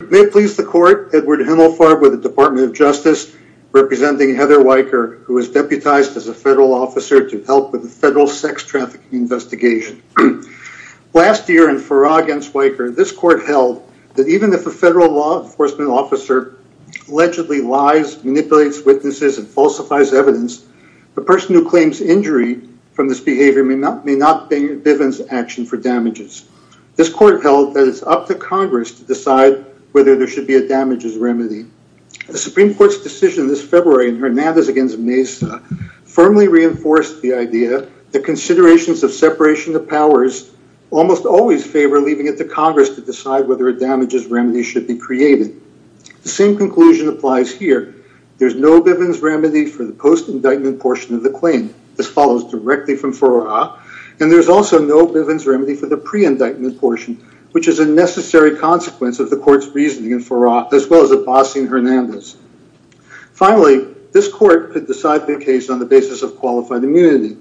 May it please the court, Edward Himmelfarb with the Department of Justice representing Heather Weyker who is deputized as a federal officer to help with the federal sex trafficking investigation. Last year in Farah against Weyker, this court held that even if a federal law enforcement officer allegedly lies, manipulates witnesses and falsifies evidence, the person who claims injury from this behavior may not be given action for damages. This court held that it's up to Congress to decide whether there should be a damages remedy. The Supreme Court's decision this February in Hernandez against Meza firmly reinforced the idea that considerations of separation of powers almost always favor leaving it to Congress to decide whether a damages remedy should be created. The same conclusion applies here. There's no Bivens remedy for the post indictment portion of the claim. This follows directly from Farah and there's also no Bivens remedy for the pre-indictment portion which is a necessary consequence of the court's reasoning in Farah as well as in Hernandez. Finally, this court could decide the case on the basis of qualified immunity.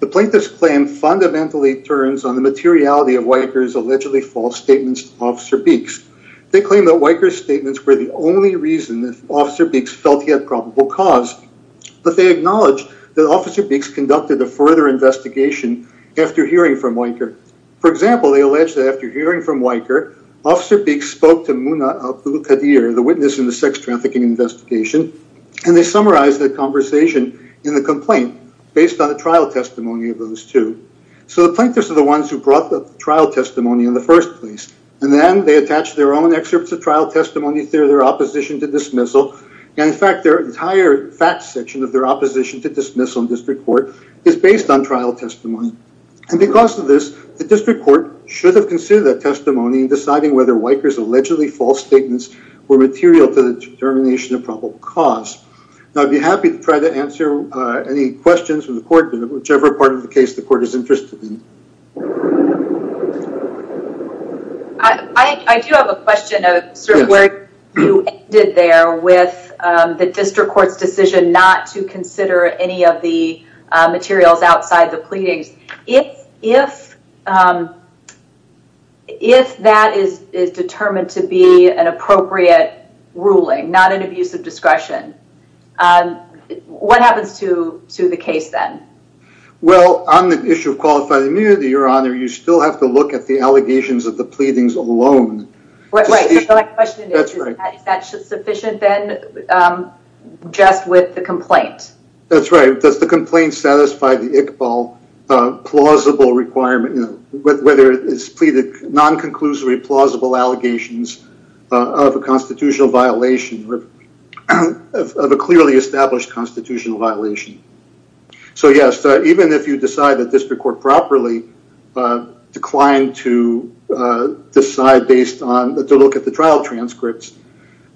The plaintiff's claim fundamentally turns on the materiality of Weyker's allegedly false statements to Officer Beeks. They claim that Weyker's statements were the only reason that Officer Beeks felt he had probable cause, but they acknowledge that Officer Beeks conducted a further investigation after hearing from Weyker. For example, they allege that after hearing from Weyker, Officer Beeks spoke to Muna Abdulkadir, the witness in the sex trafficking investigation, and they summarized the conversation in the complaint based on the trial testimony of those two. So the plaintiffs are the ones who brought the trial testimony in the first place and then they attach their own excerpts of trial testimony through their opposition to dismissal and in fact their entire fact section of their opposition to dismissal in district court is based on trial testimony. And because of this, the district court should have considered that testimony in deciding whether Weyker's allegedly false statements were material to the determination of probable cause. Now I'd be happy to try to answer any questions from the court in whichever part of the case the not to consider any of the materials outside the pleadings. If that is determined to be an appropriate ruling, not an abuse of discretion, what happens to the case then? Well, on the issue of qualified immunity, your honor, you still have to look at the allegations of the pleadings alone. Right, so my question is, is that sufficient then just with the complaint? That's right, does the complaint satisfy the Iqbal plausible requirement, whether it's pleaded non-conclusory plausible allegations of a constitutional violation of a clearly established constitutional violation. So yes, even if you decide that district court properly declined to decide based to look at the trial transcripts,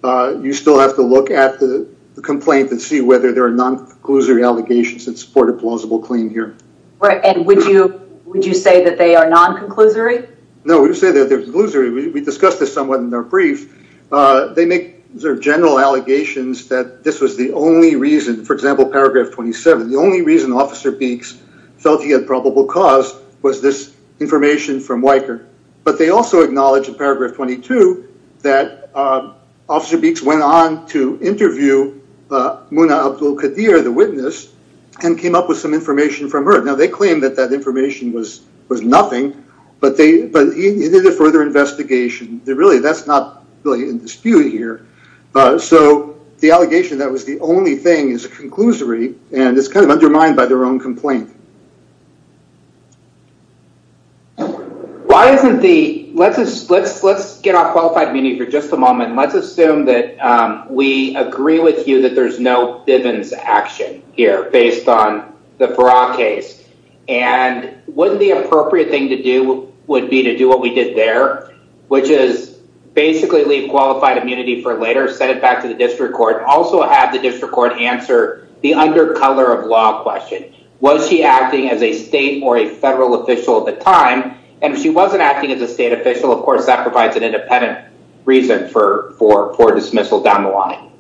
you still have to look at the complaint and see whether there are non-conclusory allegations that support a plausible claim here. Right, and would you say that they are non-conclusory? No, we would say that they're non-conclusory. We discussed this somewhat in our brief. They make general allegations that this was the only reason, for example, paragraph 27, the only reason officer Beeks felt he had probable cause was this that officer Beeks went on to interview Muna Abdul-Qadir, the witness, and came up with some information from her. Now they claim that that information was nothing, but he did a further investigation. Really, that's not really in dispute here. So the allegation that was the only thing is a conclusory, and it's kind of undermined by their own complaint. Let's get off qualified immunity for just a moment. Let's assume that we agree with you that there's no Bivens action here based on the Farrar case, and wouldn't the appropriate thing to do would be to do what we did there, which is basically leave qualified immunity for later, send it back to the district court, also have the district court answer the under color of a state or a federal official at the time, and if she wasn't acting as a state official, of course, that provides an independent reason for dismissal down the line.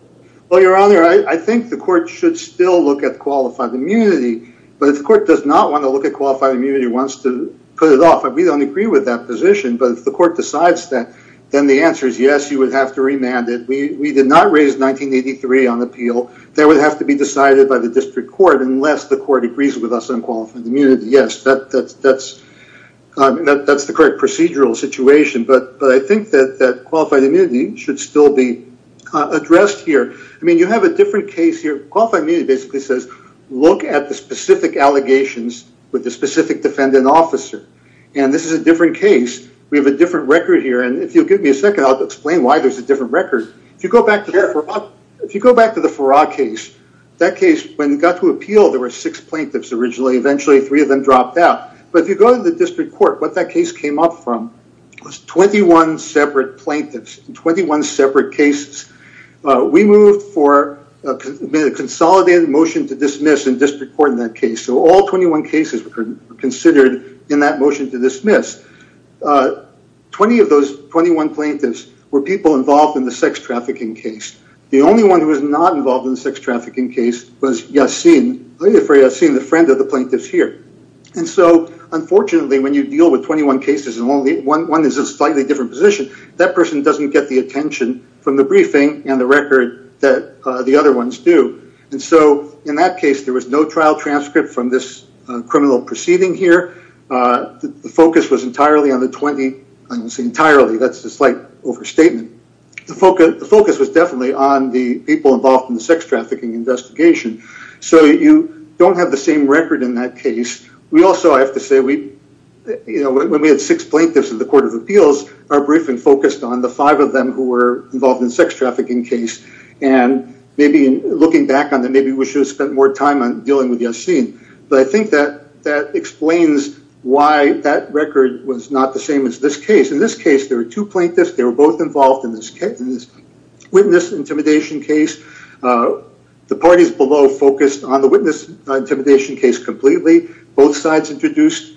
Well, your honor, I think the court should still look at qualified immunity, but if the court does not want to look at qualified immunity, wants to put it off, we don't agree with that position, but if the court decides that, then the answer is yes, you would have to remand it. We did not raise 1983 on appeal. That would have to be decided by the district court unless the court agrees with us on qualified immunity. Yes, that's the correct procedural situation, but I think that qualified immunity should still be addressed here. I mean, you have a different case here. Qualified immunity basically says look at the specific allegations with the specific defendant officer, and this is a different case. We have a different record here, and if you'll give me a second, I'll explain why there's a case. That case, when it got to appeal, there were six plaintiffs originally. Eventually, three of them dropped out, but if you go to the district court, what that case came up from was 21 separate plaintiffs in 21 separate cases. We moved for a consolidated motion to dismiss in district court in that case, so all 21 cases were considered in that motion to dismiss. 20 of those 21 plaintiffs were people involved in the sex trafficking case. The only one who was not involved in the sex trafficking case was Yassin, the friend of the plaintiffs here, and so unfortunately, when you deal with 21 cases and only one is in a slightly different position, that person doesn't get the attention from the briefing and the record that the other ones do, and so in that case, there was no trial transcript from this criminal proceeding here. The focus was entirely on the 20. I didn't say entirely. That's a slight overstatement. The focus was definitely on the people involved in the sex trafficking investigation, so you don't have the same record in that case. We also, I have to say, when we had six plaintiffs in the court of appeals, our briefing focused on the five of them who were involved in the sex trafficking case, and maybe looking back on that, maybe we should have spent more time on dealing with Yassin, but I think that explains why that record was not the same as this case. In this case, there were two plaintiffs. They were both involved in this witness intimidation case. The parties below focused on the witness intimidation case completely. Both sides introduced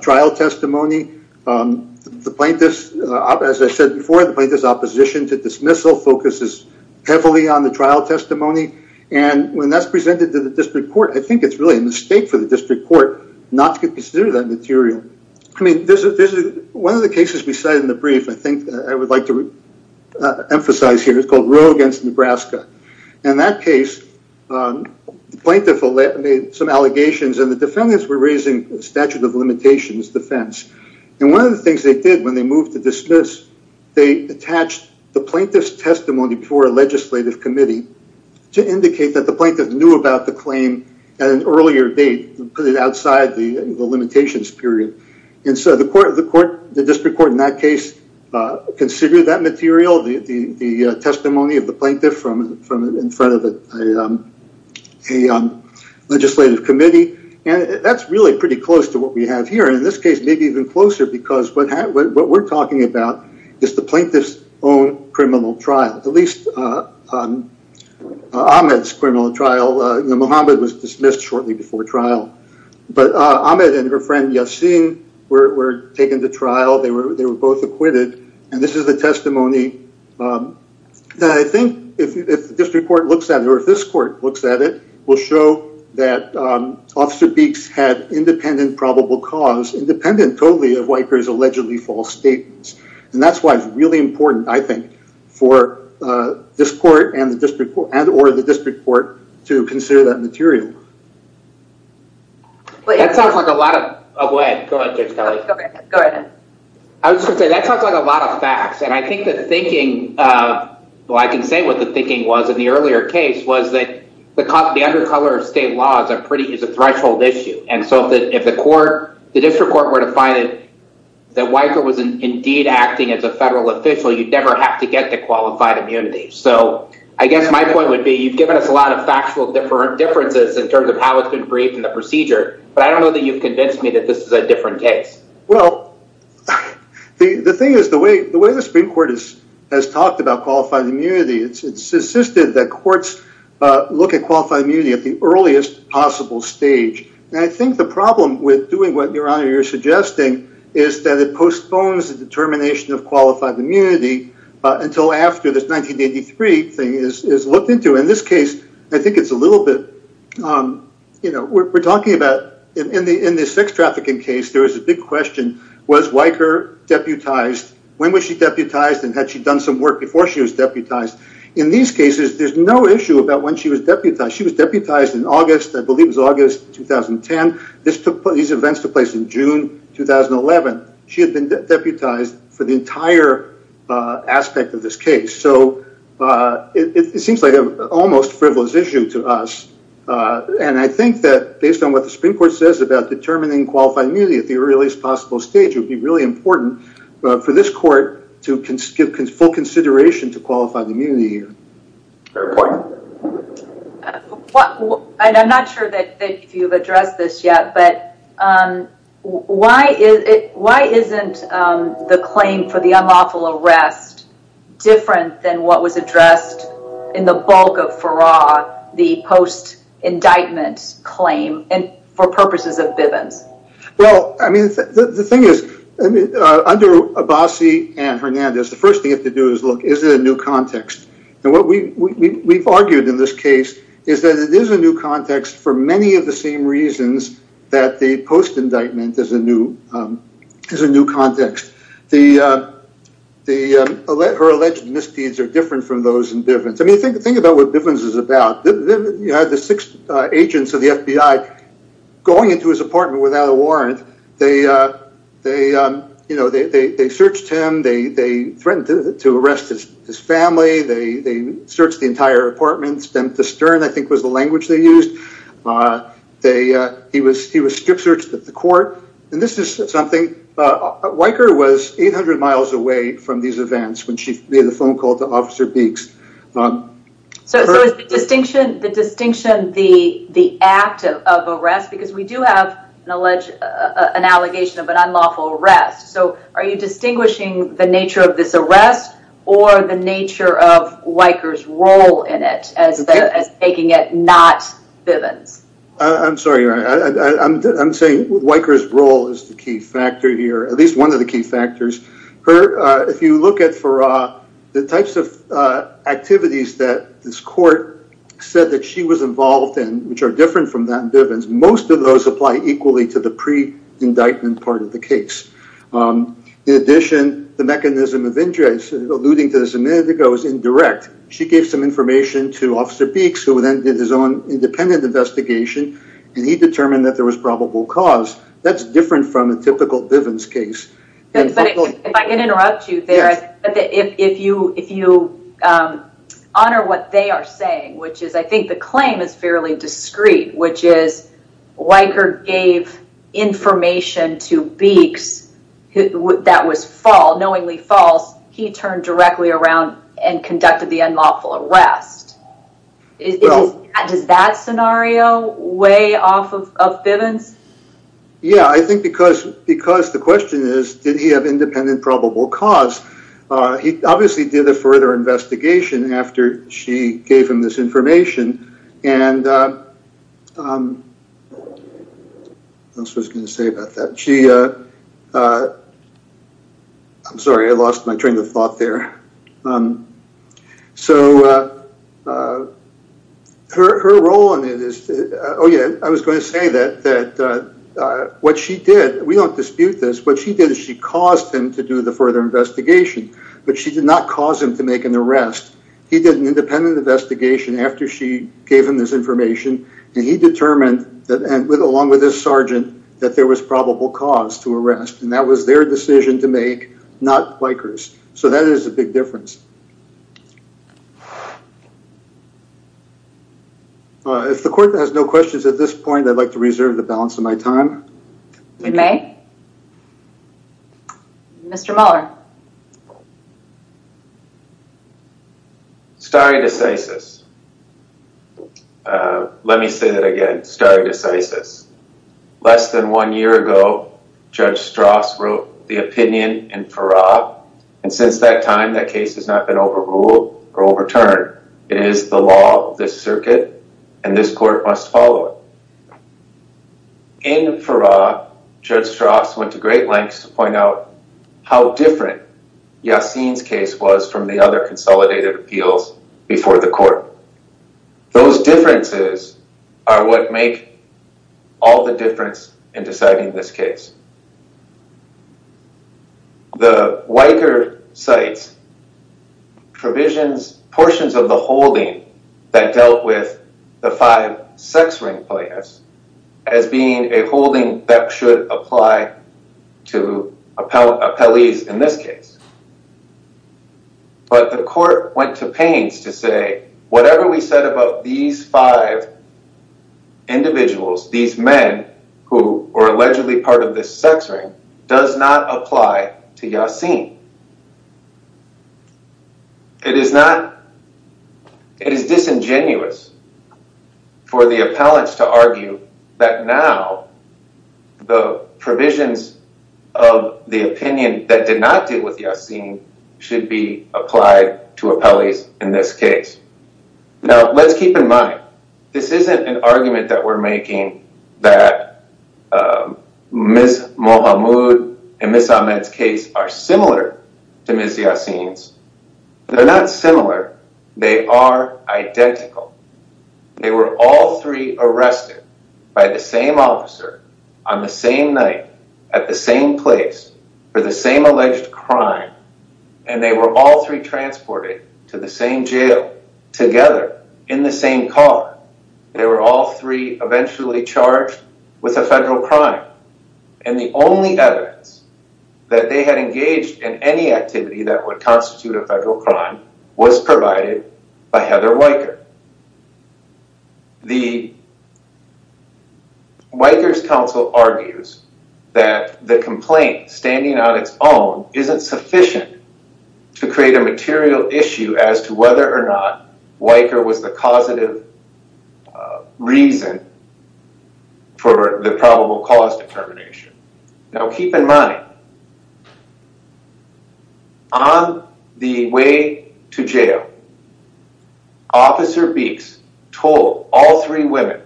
trial testimony. The plaintiffs, as I said before, the plaintiffs' opposition to dismissal focuses heavily on the trial testimony, and when that's presented to the district court, I think it's really a mistake for the district court not to consider that material. I mean, one of the cases we cite in the brief, I think I would like to emphasize here, is called Roe against Nebraska. In that case, the plaintiff made some allegations, and the defendants were raising statute of limitations defense. One of the things they did when they moved to dismiss, they attached the plaintiff's testimony before a legislative committee to indicate that the plaintiff knew about the claim at an earlier date, put it outside the limitations period, and so the district court in that case considered that material, the testimony of the plaintiff in front of a legislative committee, and that's really pretty close to what we have here, and in this case, maybe even closer, because what we're talking about is the plaintiff's own criminal trial, at least Ahmed's criminal trial. Mohammed was dismissed shortly before trial, but Ahmed and her friend Yassin were taken to trial. They were both acquitted, and this is the testimony that I think if the district court looks at it, or if this court looks at it, will show that Officer Beeks had independent probable cause, independent totally of Whiteberry's allegedly false statements, and that's why it's really important, I think, for this court and or the district court to consider that material. That sounds like a lot of facts, and I think the thinking, well, I can say what the thinking was in the earlier case, was that the undercover state law is a threshold issue, and so if the district court were to find that Whiteberry was indeed acting as a federal official, you'd never have to get to qualified immunity, so I guess my point would be you've given us a lot of factual differences in terms of how it's been briefed in the procedure, but I don't know that you've convinced me that this is a different case. Well, the thing is, the way the Supreme Court has talked about qualified immunity, it's insisted that courts look at qualified immunity at the earliest possible stage, and I think the problem with doing what, Your Honor, you're suggesting is that it postpones the determination of qualified immunity until after this 1983 thing is looked into. In this case, I think it's a little bit, you know, we're talking about in the sex trafficking case, there was a big question, was Weicker deputized? When was she deputized, and had she done some work before she was deputized? In these cases, there's no issue about when she was deputized. She was deputized in August, I believe it was August 2010. These events took place in June 2011. She had been deputized for the entire aspect of this case, so it seems like an almost frivolous issue to us, and I think that based on what the Supreme Court says about determining qualified immunity at the earliest possible stage, it would be really important for this court to give full consideration to that. I'm not sure if you've addressed this yet, but why isn't the claim for the unlawful arrest different than what was addressed in the bulk of Farrar, the post-indictment claim, and for purposes of Bivens? Well, I mean, the thing is, under Abbasi and Hernandez, the first thing you have to do is look, is it a new context? And what we've argued in this case is that it is a new context for many of the same reasons that the post-indictment is a new context. Her alleged misdeeds are different from those in Bivens. I mean, think about what Bivens is about. You had the six agents of the FBI going into his apartment without a warrant. They searched him, they threatened to arrest his family, they searched the entire apartment. Stem to stern, I think, was the language they used. He was strip-searched at the court. And this is something, Weicker was 800 miles away from these events when she made the phone call to Officer Beeks. So is the distinction the act of arrest? Because we do have an allegation of an unlawful arrest. So are you distinguishing the nature of this arrest or the nature of Weicker's role in it as taking it not Bivens? I'm sorry. I'm saying Weicker's role is the key factor here, at least one of the key factors. If you look at the types of activities that this court said that she was involved in, which are different from that in Bivens, most of those apply equally to the indictment part of the case. In addition, the mechanism of injuries, alluding to this a minute ago, is indirect. She gave some information to Officer Beeks, who then did his own independent investigation, and he determined that there was probable cause. That's different from a typical Bivens case. If I can interrupt you there, if you honor what they are saying, which is I think the information to Beeks that was knowingly false, he turned directly around and conducted the unlawful arrest. Does that scenario weigh off of Bivens? Yeah, I think because the question is, did he have independent probable cause? He obviously did a further investigation after she gave him this information. I'm sorry, I lost my train of thought there. I was going to say that what she did, we don't dispute this, what she did is she caused him to investigate. She did an independent investigation after she gave him this information, and he determined, along with his sergeant, that there was probable cause to arrest, and that was their decision to make, not Bikers. So that is a big difference. If the court has no questions at this point, I'm going to move on to Stare Decisis. Let me say that again, Stare Decisis. Less than one year ago, Judge Strauss wrote the opinion in Farrar, and since that time, that case has not been overruled or overturned. It is the law of this circuit, and this court must follow it. In Farrar, Judge Strauss went to great lengths to point out how different Yassin's case was from the other consolidated appeals before the court. Those differences are what make all the difference in deciding this case. The Weicker cites provisions, portions of the holding that dealt with the five sex ring players as being a holding that should apply to appellees in this case. The court went to pains to say, whatever we said about these five individuals, these men who were allegedly part of this sex ring, does not apply to Yassin. It is disingenuous for the appellants to argue that now the provisions of the opinion that did not apply to appellees in this case. Now, let's keep in mind, this isn't an argument that we're making that Ms. Mohamud and Ms. Ahmed's case are similar to Ms. Yassin's. They're not similar, they are identical. They were all three arrested by the same officer on the same night at the same place for the same alleged crime and they were all three transported to the same jail together in the same car. They were all three eventually charged with a federal crime and the only evidence that they had engaged in any activity that would constitute a federal crime was provided by Heather Mohamud. The Wiker's counsel argues that the complaint standing on its own isn't sufficient to create a material issue as to whether or not Wiker was the causative reason for the probable cause determination. Now, keep in mind, on the way to jail, Officer Beeks told all three women,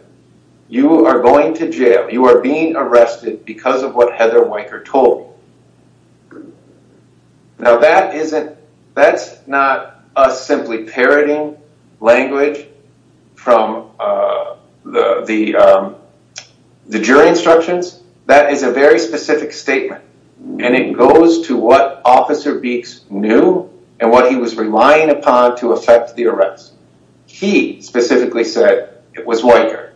you are going to jail, you are being arrested because of what Heather Wiker told you. Now, that's not us simply parroting language from the jury instructions, that is a very specific statement and it goes to what Officer Beeks knew and what he was relying upon to effect the arrest. He specifically said it was Wiker.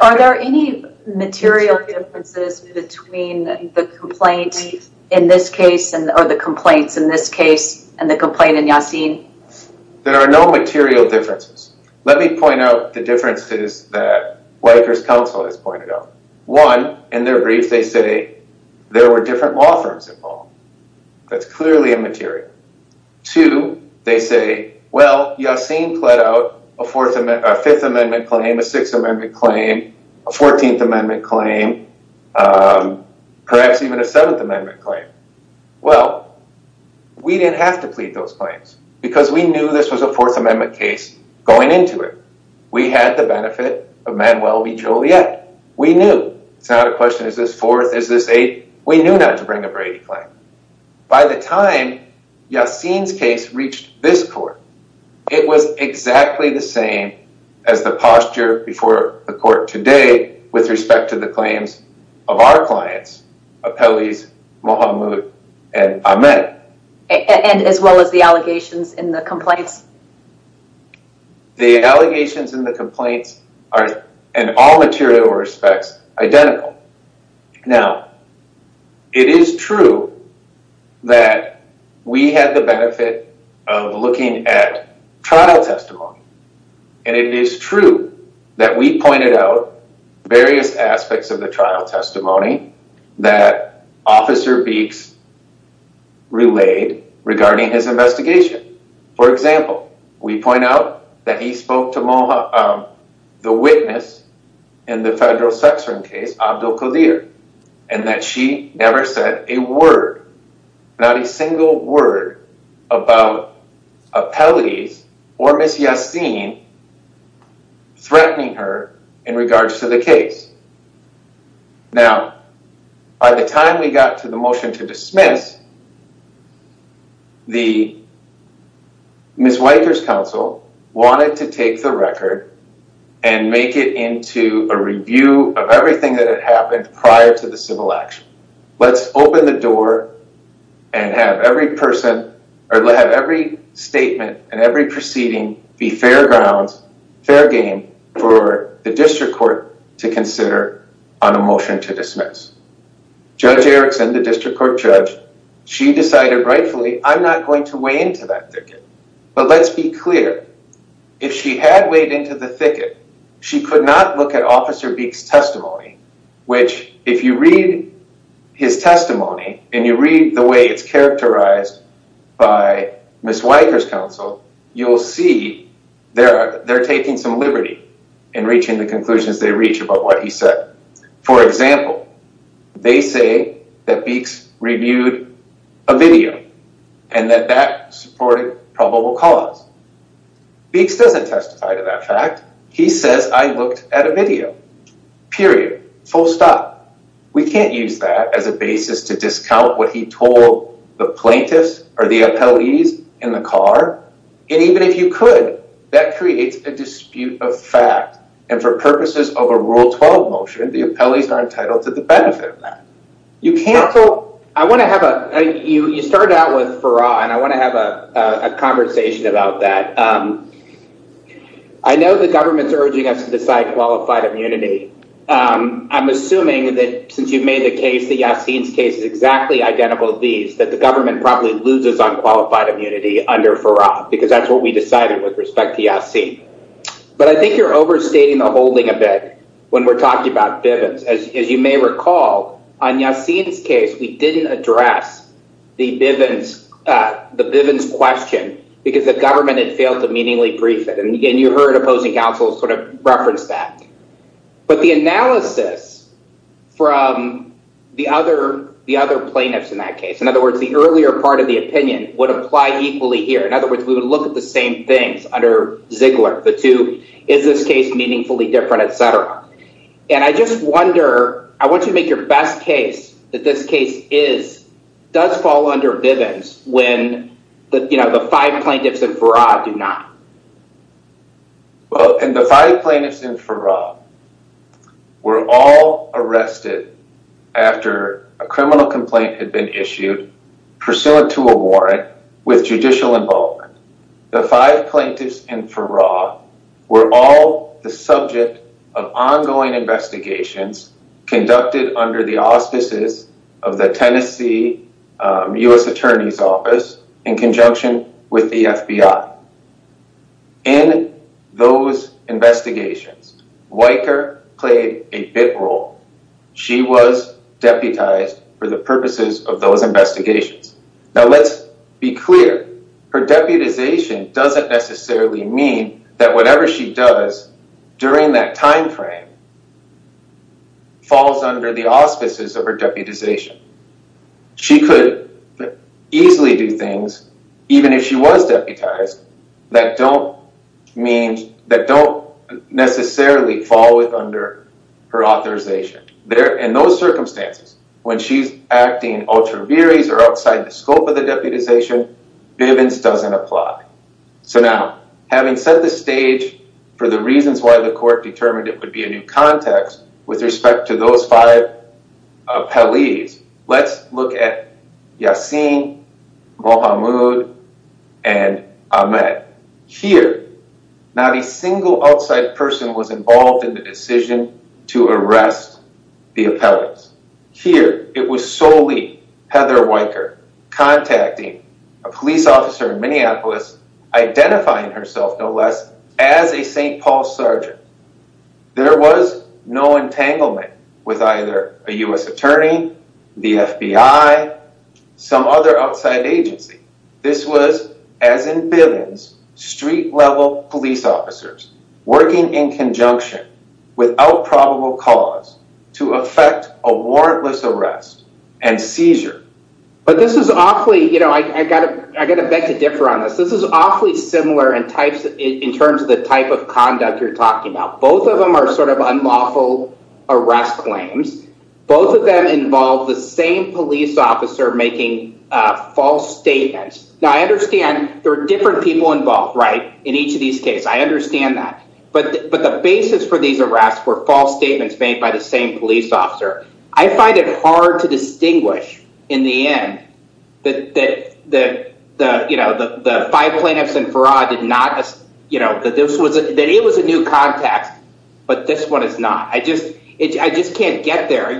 Are there any material differences between the complaint in this case or the complaints in this case and the complaint in Yassin? There are no material differences. Let me point out the differences that Wiker's counsel has found. One, in their brief they say there were different law firms involved. That's clearly immaterial. Two, they say, well, Yassin pled out a Fifth Amendment claim, a Sixth Amendment claim, a Fourteenth Amendment claim, perhaps even a Seventh Amendment claim. Well, we didn't have to plead those claims because we knew this was a Fourth Amendment case going into it. We had the benefit of Manuel B. Joliet. We knew. It's not a question, is this Fourth, is this Eighth? We knew not to bring a Brady claim. By the time Yassin's case reached this court, it was exactly the same as the posture before the court today with respect to the claims of our clients, Apelles, Mohamed, and Ahmed. And as well as the allegations in the complaints? The allegations in the complaints are, in all material respects, identical. Now, it is true that we had the benefit of looking at trial testimony. And it is true that we pointed out various aspects of the trial testimony that Officer Beeks relayed regarding his investigation. For example, we point out that he spoke to the witness in the federal sex-offering case, Abdelkader, and that she never said a word, not a single word, about Apelles or Ms. Yassin threatening her in regards to the case. Now, by the time we got to the motion to dismiss, the Ms. Weicker's counsel wanted to take the record and make it into a review of everything that had happened prior to the civil action. Let's open the door and have every statement and every proceeding be fair grounds, fair game, for the district court to consider on a motion to dismiss. Judge Erickson, the district court judge, she decided rightfully, I'm not going to weigh into that thicket. But let's be clear. If she had weighed into the thicket, she could not look at Officer Beeks' testimony, which, if you read his testimony and you read the way it's characterized by Ms. Weicker's counsel, you'll see they're taking some liberty in reaching the conclusions they reach about what he said. For example, they say that Beeks reviewed a video and that that supported probable cause. Beeks doesn't testify to that fact. He says I looked at a video, period, full stop. We can't use that as a basis to discount what he told the plaintiffs or the appellees in the car. And even if you could, that creates a dispute of fact. And for purposes of a Rule 12 motion, the appellees are entitled to the benefit of that. You started out with Farrar, and I want to have a conversation about that. I know the government's urging us to decide qualified immunity. I'm assuming that since the Yassin's case is exactly identical to these, that the government probably loses on qualified immunity under Farrar, because that's what we decided with respect to Yassin. But I think you're overstating the holding a bit when we're talking about Bivens. As you may recall, on Yassin's case, we didn't address the Bivens question because the government had failed to meaningly brief it. And you heard opposing counsels sort of reference that. But the analysis from the other plaintiffs in that case, in other words, the earlier part of the opinion, would apply equally here. In other words, we would look at the same things under Ziegler, the two, is this case meaningfully different, etc. And I just wonder, I want you to make your best case that this case does fall under Bivens when the five plaintiffs in Farrar do not. Well, the five plaintiffs in Farrar were all arrested after a criminal complaint had been issued pursuant to a warrant with judicial involvement. The five plaintiffs in Farrar were all the subject of ongoing investigations conducted under the auspices of the Tennessee U.S. Attorney's Office in conjunction with the FBI. In those investigations, Weicker played a bit role. She was deputized for the purposes of those investigations. Now, let's be clear, her deputization doesn't necessarily mean that whatever she does during that time frame falls under the auspices of her deputization. She could easily do things, even if she was deputized, that don't necessarily fall under her authorization. In those circumstances, when she's acting ultra viris or outside the scope of the deputization, Bivens doesn't apply. So now, having set the stage for the reasons why the court determined it would be a new context with respect to those five appellees, let's look at Yassin, Mohamud, and Ahmed. Here, not a single outside person was involved in the decision to arrest the appellants. Here, it was solely Heather Weicker contacting a police officer in Minneapolis, identifying herself, as a St. Paul sergeant. There was no entanglement with either a U.S. attorney, the FBI, some other outside agency. This was, as in Bivens, street-level police officers working in conjunction without probable cause to effect a warrantless arrest and seizure. But this is awfully, you know, in terms of the type of conduct you're talking about. Both of them are sort of unlawful arrest claims. Both of them involve the same police officer making false statements. Now, I understand there are different people involved, right, in each of these cases. I understand that. But the basis for these arrests were false statements made by the same police officer. I find it hard to distinguish, in the end, that the five plaintiffs and Farah did not, you know, that it was a new context, but this one is not. I just can't get there.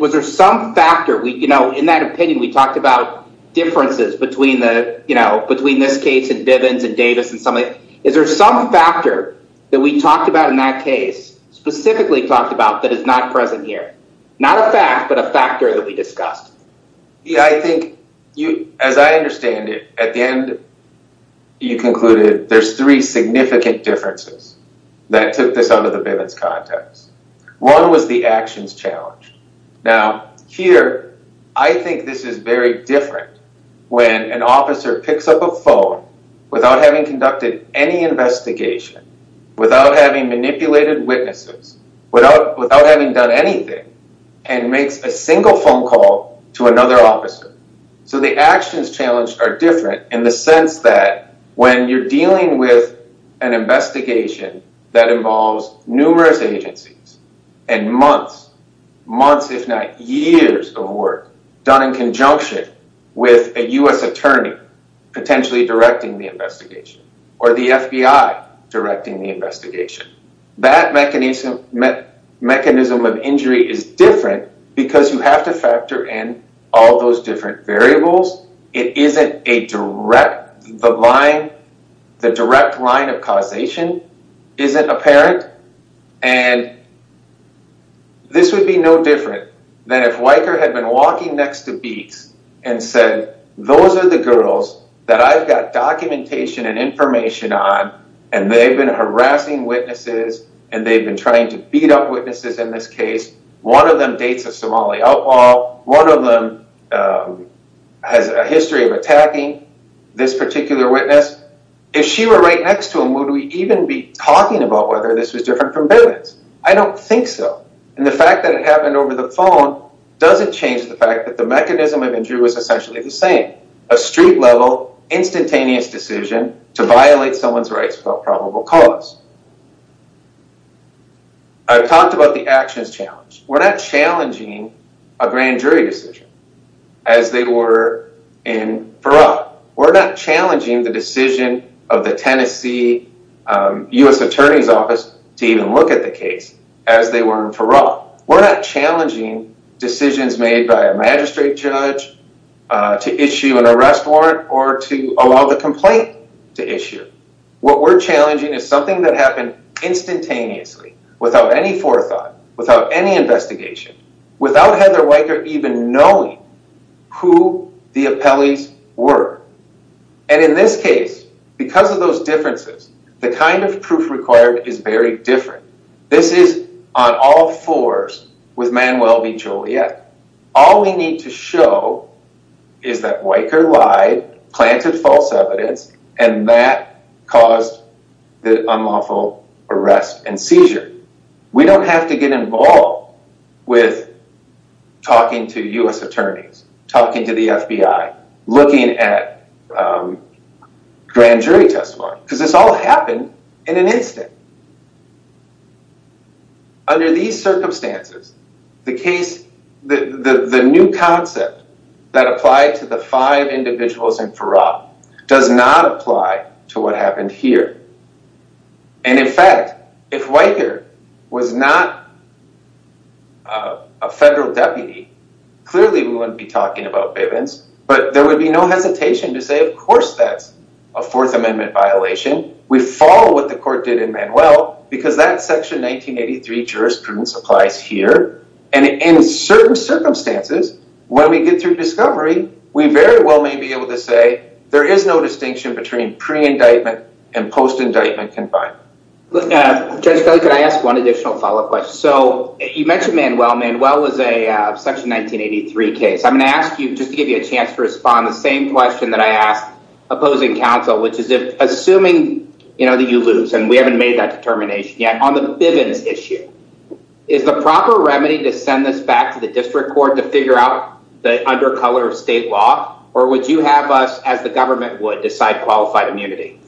Was there some factor? You know, in that opinion, we talked about differences between this case and Bivens and Davis and some of these. Is there some factor that we talked about in that case, specifically talked about, that is not present here? Not a fact, but a factor that we discussed. I think, as I understand it, at the end, you concluded there's three significant differences that took this out of the Bivens context. One was the actions challenged. Now, here, I think this is very different when an officer picks up a phone without having conducted any witnesses, without having done anything, and makes a single phone call to another officer. So the actions challenged are different in the sense that when you're dealing with an investigation that involves numerous agencies and months, months if not years of work done in conjunction with a U.S. attorney potentially directing the investigation or the FBI directing the investigation, the mechanism of injury is different because you have to factor in all those different variables. It isn't a direct, the line, the direct line of causation isn't apparent and this would be no different than if Weicker had been walking next to Beets and said, those are the girls that I've got documentation and information on and they've been harassing witnesses and they've been trying to beat up witnesses in this case. One of them dates a Somali outlaw. One of them has a history of attacking this particular witness. If she were right next to him, would we even be talking about whether this was different from Bivens? I don't think so. And the fact that it happened over the phone doesn't change the fact that the mechanism of injury was essentially the same. A street level instantaneous decision to violate someone's cause. I've talked about the actions challenge. We're not challenging a grand jury decision as they were in Farah. We're not challenging the decision of the Tennessee U.S. attorney's office to even look at the case as they were in Farah. We're not challenging decisions made by a magistrate judge to issue an arrest warrant or to allow the complaint to issue. What we're challenging is something that happened instantaneously without any forethought, without any investigation, without Heather Weicker even knowing who the appellees were. And in this case, because of those differences, the kind of proof required is very different. This is on all fours with Manuel V. Joliet. All we need to show is that Weicker lied, planted false evidence, and that caused the unlawful arrest and seizure. We don't have to get involved with talking to U.S. attorneys, talking to the FBI, looking at grand jury testimony, because this happened in an instant. Under these circumstances, the new concept that applied to the five individuals in Farah does not apply to what happened here. And in fact, if Weicker was not a federal deputy, clearly we wouldn't be talking about Bivens, but there would be no hesitation to say, of course that's a Fourth Amendment violation. We follow what the court did in Manuel, because that Section 1983 jurisprudence applies here. And in certain circumstances, when we get through discovery, we very well may be able to say there is no distinction between pre-indictment and post-indictment confinement. Judge Kelly, could I ask one additional follow-up question? So you mentioned Manuel. Manuel was a Section 1983 case. I'm going to ask you, to give you a chance to respond, the same question that I asked opposing counsel, which is, assuming that you lose, and we haven't made that determination yet, on the Bivens issue, is the proper remedy to send this back to the district court to figure out the undercolor of state law, or would you have us, as the government would, decide qualified immunity?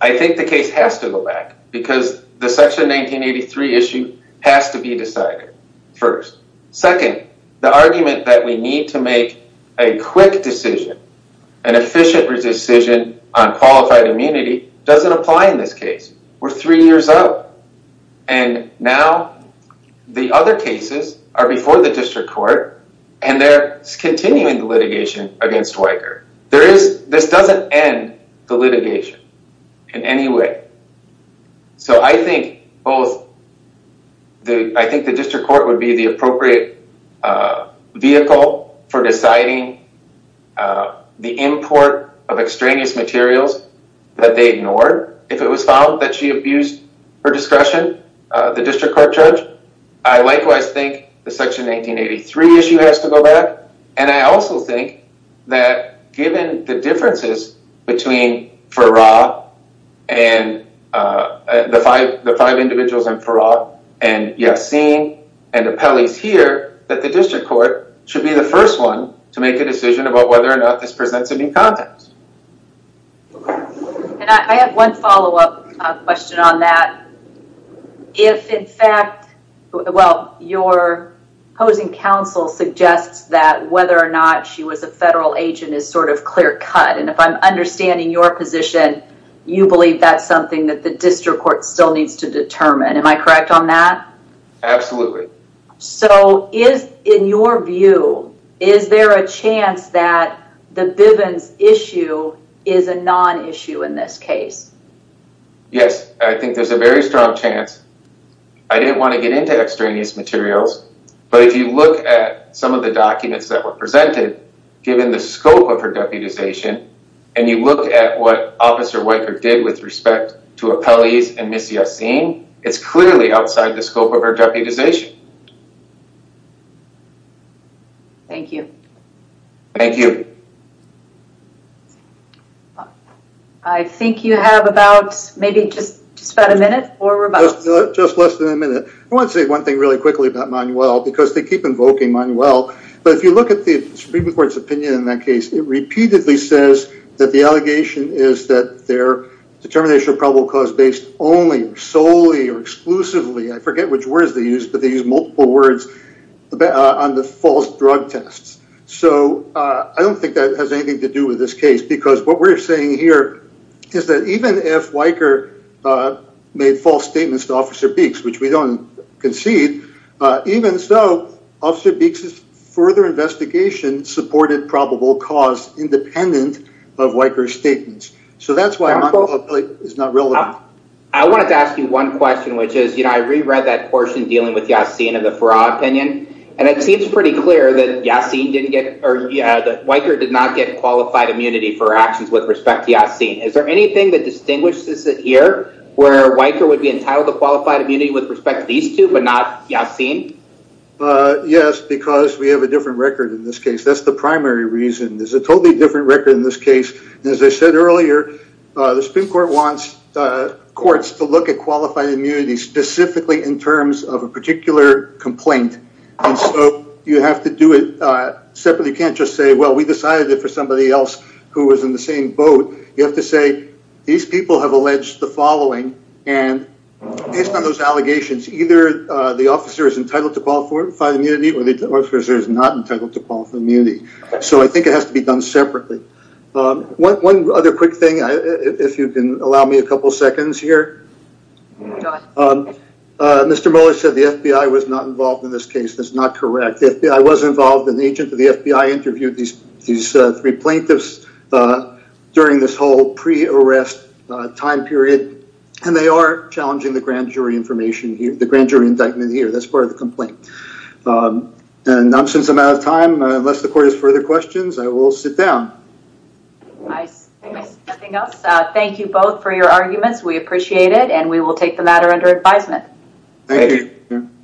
I think the case has to go back, because the Section 1983 issue has to be decided first. Second, the argument that we need to make a quick decision, an efficient decision, on qualified immunity, doesn't apply in this case. We're three years up, and now the other cases are before the district court, and they're continuing the litigation against Weicker. This doesn't end the litigation in any way. So I think the district court would be the appropriate vehicle for deciding the import of extraneous materials that they ignored. If it was found that she abused her discretion, the district court judge, I likewise think the Section 1983 issue has to go back, and I also think that given the differences between Farrar, and the five individuals in Farrar, and Yassin, and the Pelley's here, that the district court should be the first one to make a decision about whether or not this presents any context. Okay. And I have one follow-up question on that. If in fact, well, your opposing counsel suggests that whether or not she was a federal agent is sort of clear-cut, and if I'm understanding your position, you believe that's something that the district court still needs to determine. Am I a non-issue in this case? Yes, I think there's a very strong chance. I didn't want to get into extraneous materials, but if you look at some of the documents that were presented, given the scope of her deputization, and you look at what Officer Weicker did with respect to Pelley's and Ms. Yassin, it's clearly outside the scope of her deputization. Thank you. Thank you. I think you have about maybe just about a minute or about. Just less than a minute. I want to say one thing really quickly about Manuel, because they keep invoking Manuel, but if you look at the Supreme Court's opinion in that case, it repeatedly says that the allegation is that their determination of probable cause based only, solely, or exclusively, I forget which words they use, but they use multiple words on the false drug tests. So I don't think that has anything to do with this case, because what we're saying here is that even if Weicker made false statements to Officer Beeks, which we don't concede, even so, Officer Beeks's further investigation supported probable cause independent of Weicker's statements. So that's why it's not relevant. I wanted to ask you one question, which is, you know, I reread that portion dealing with Yassin and the Farah opinion, and it seems pretty clear that Weicker did not get qualified immunity for actions with respect to Yassin. Is there anything that distinguishes it here, where Weicker would be entitled to qualified immunity with respect to these two, but not Yassin? Yes, because we have a different record in this case. That's the primary reason. There's a totally different record in this case. As I said earlier, the Supreme Court wants courts to look at qualified immunity specifically in terms of a particular complaint, and so you have to do it separately. You can't just say, well, we decided it for somebody else who was in the same boat. You have to say, these people have alleged the following, and based on those allegations, either the officer is entitled to qualified immunity or the officer is not entitled to qualified immunity. So I think it has to be done separately. One other quick thing, if you can allow me a couple seconds here. Go ahead. Mr. Mueller said the FBI was not involved in this case. That's not correct. The FBI was involved, and the agent of the FBI interviewed these three plaintiffs during this whole pre-arrest time period, and they are challenging the grand jury indictment here. That's part of the complaint. And since I'm out of time, unless the court has further questions, I will sit down. Nice. Anything else? Thank you both for your arguments. We appreciate it, and we will take the matter under advisement. Thank you.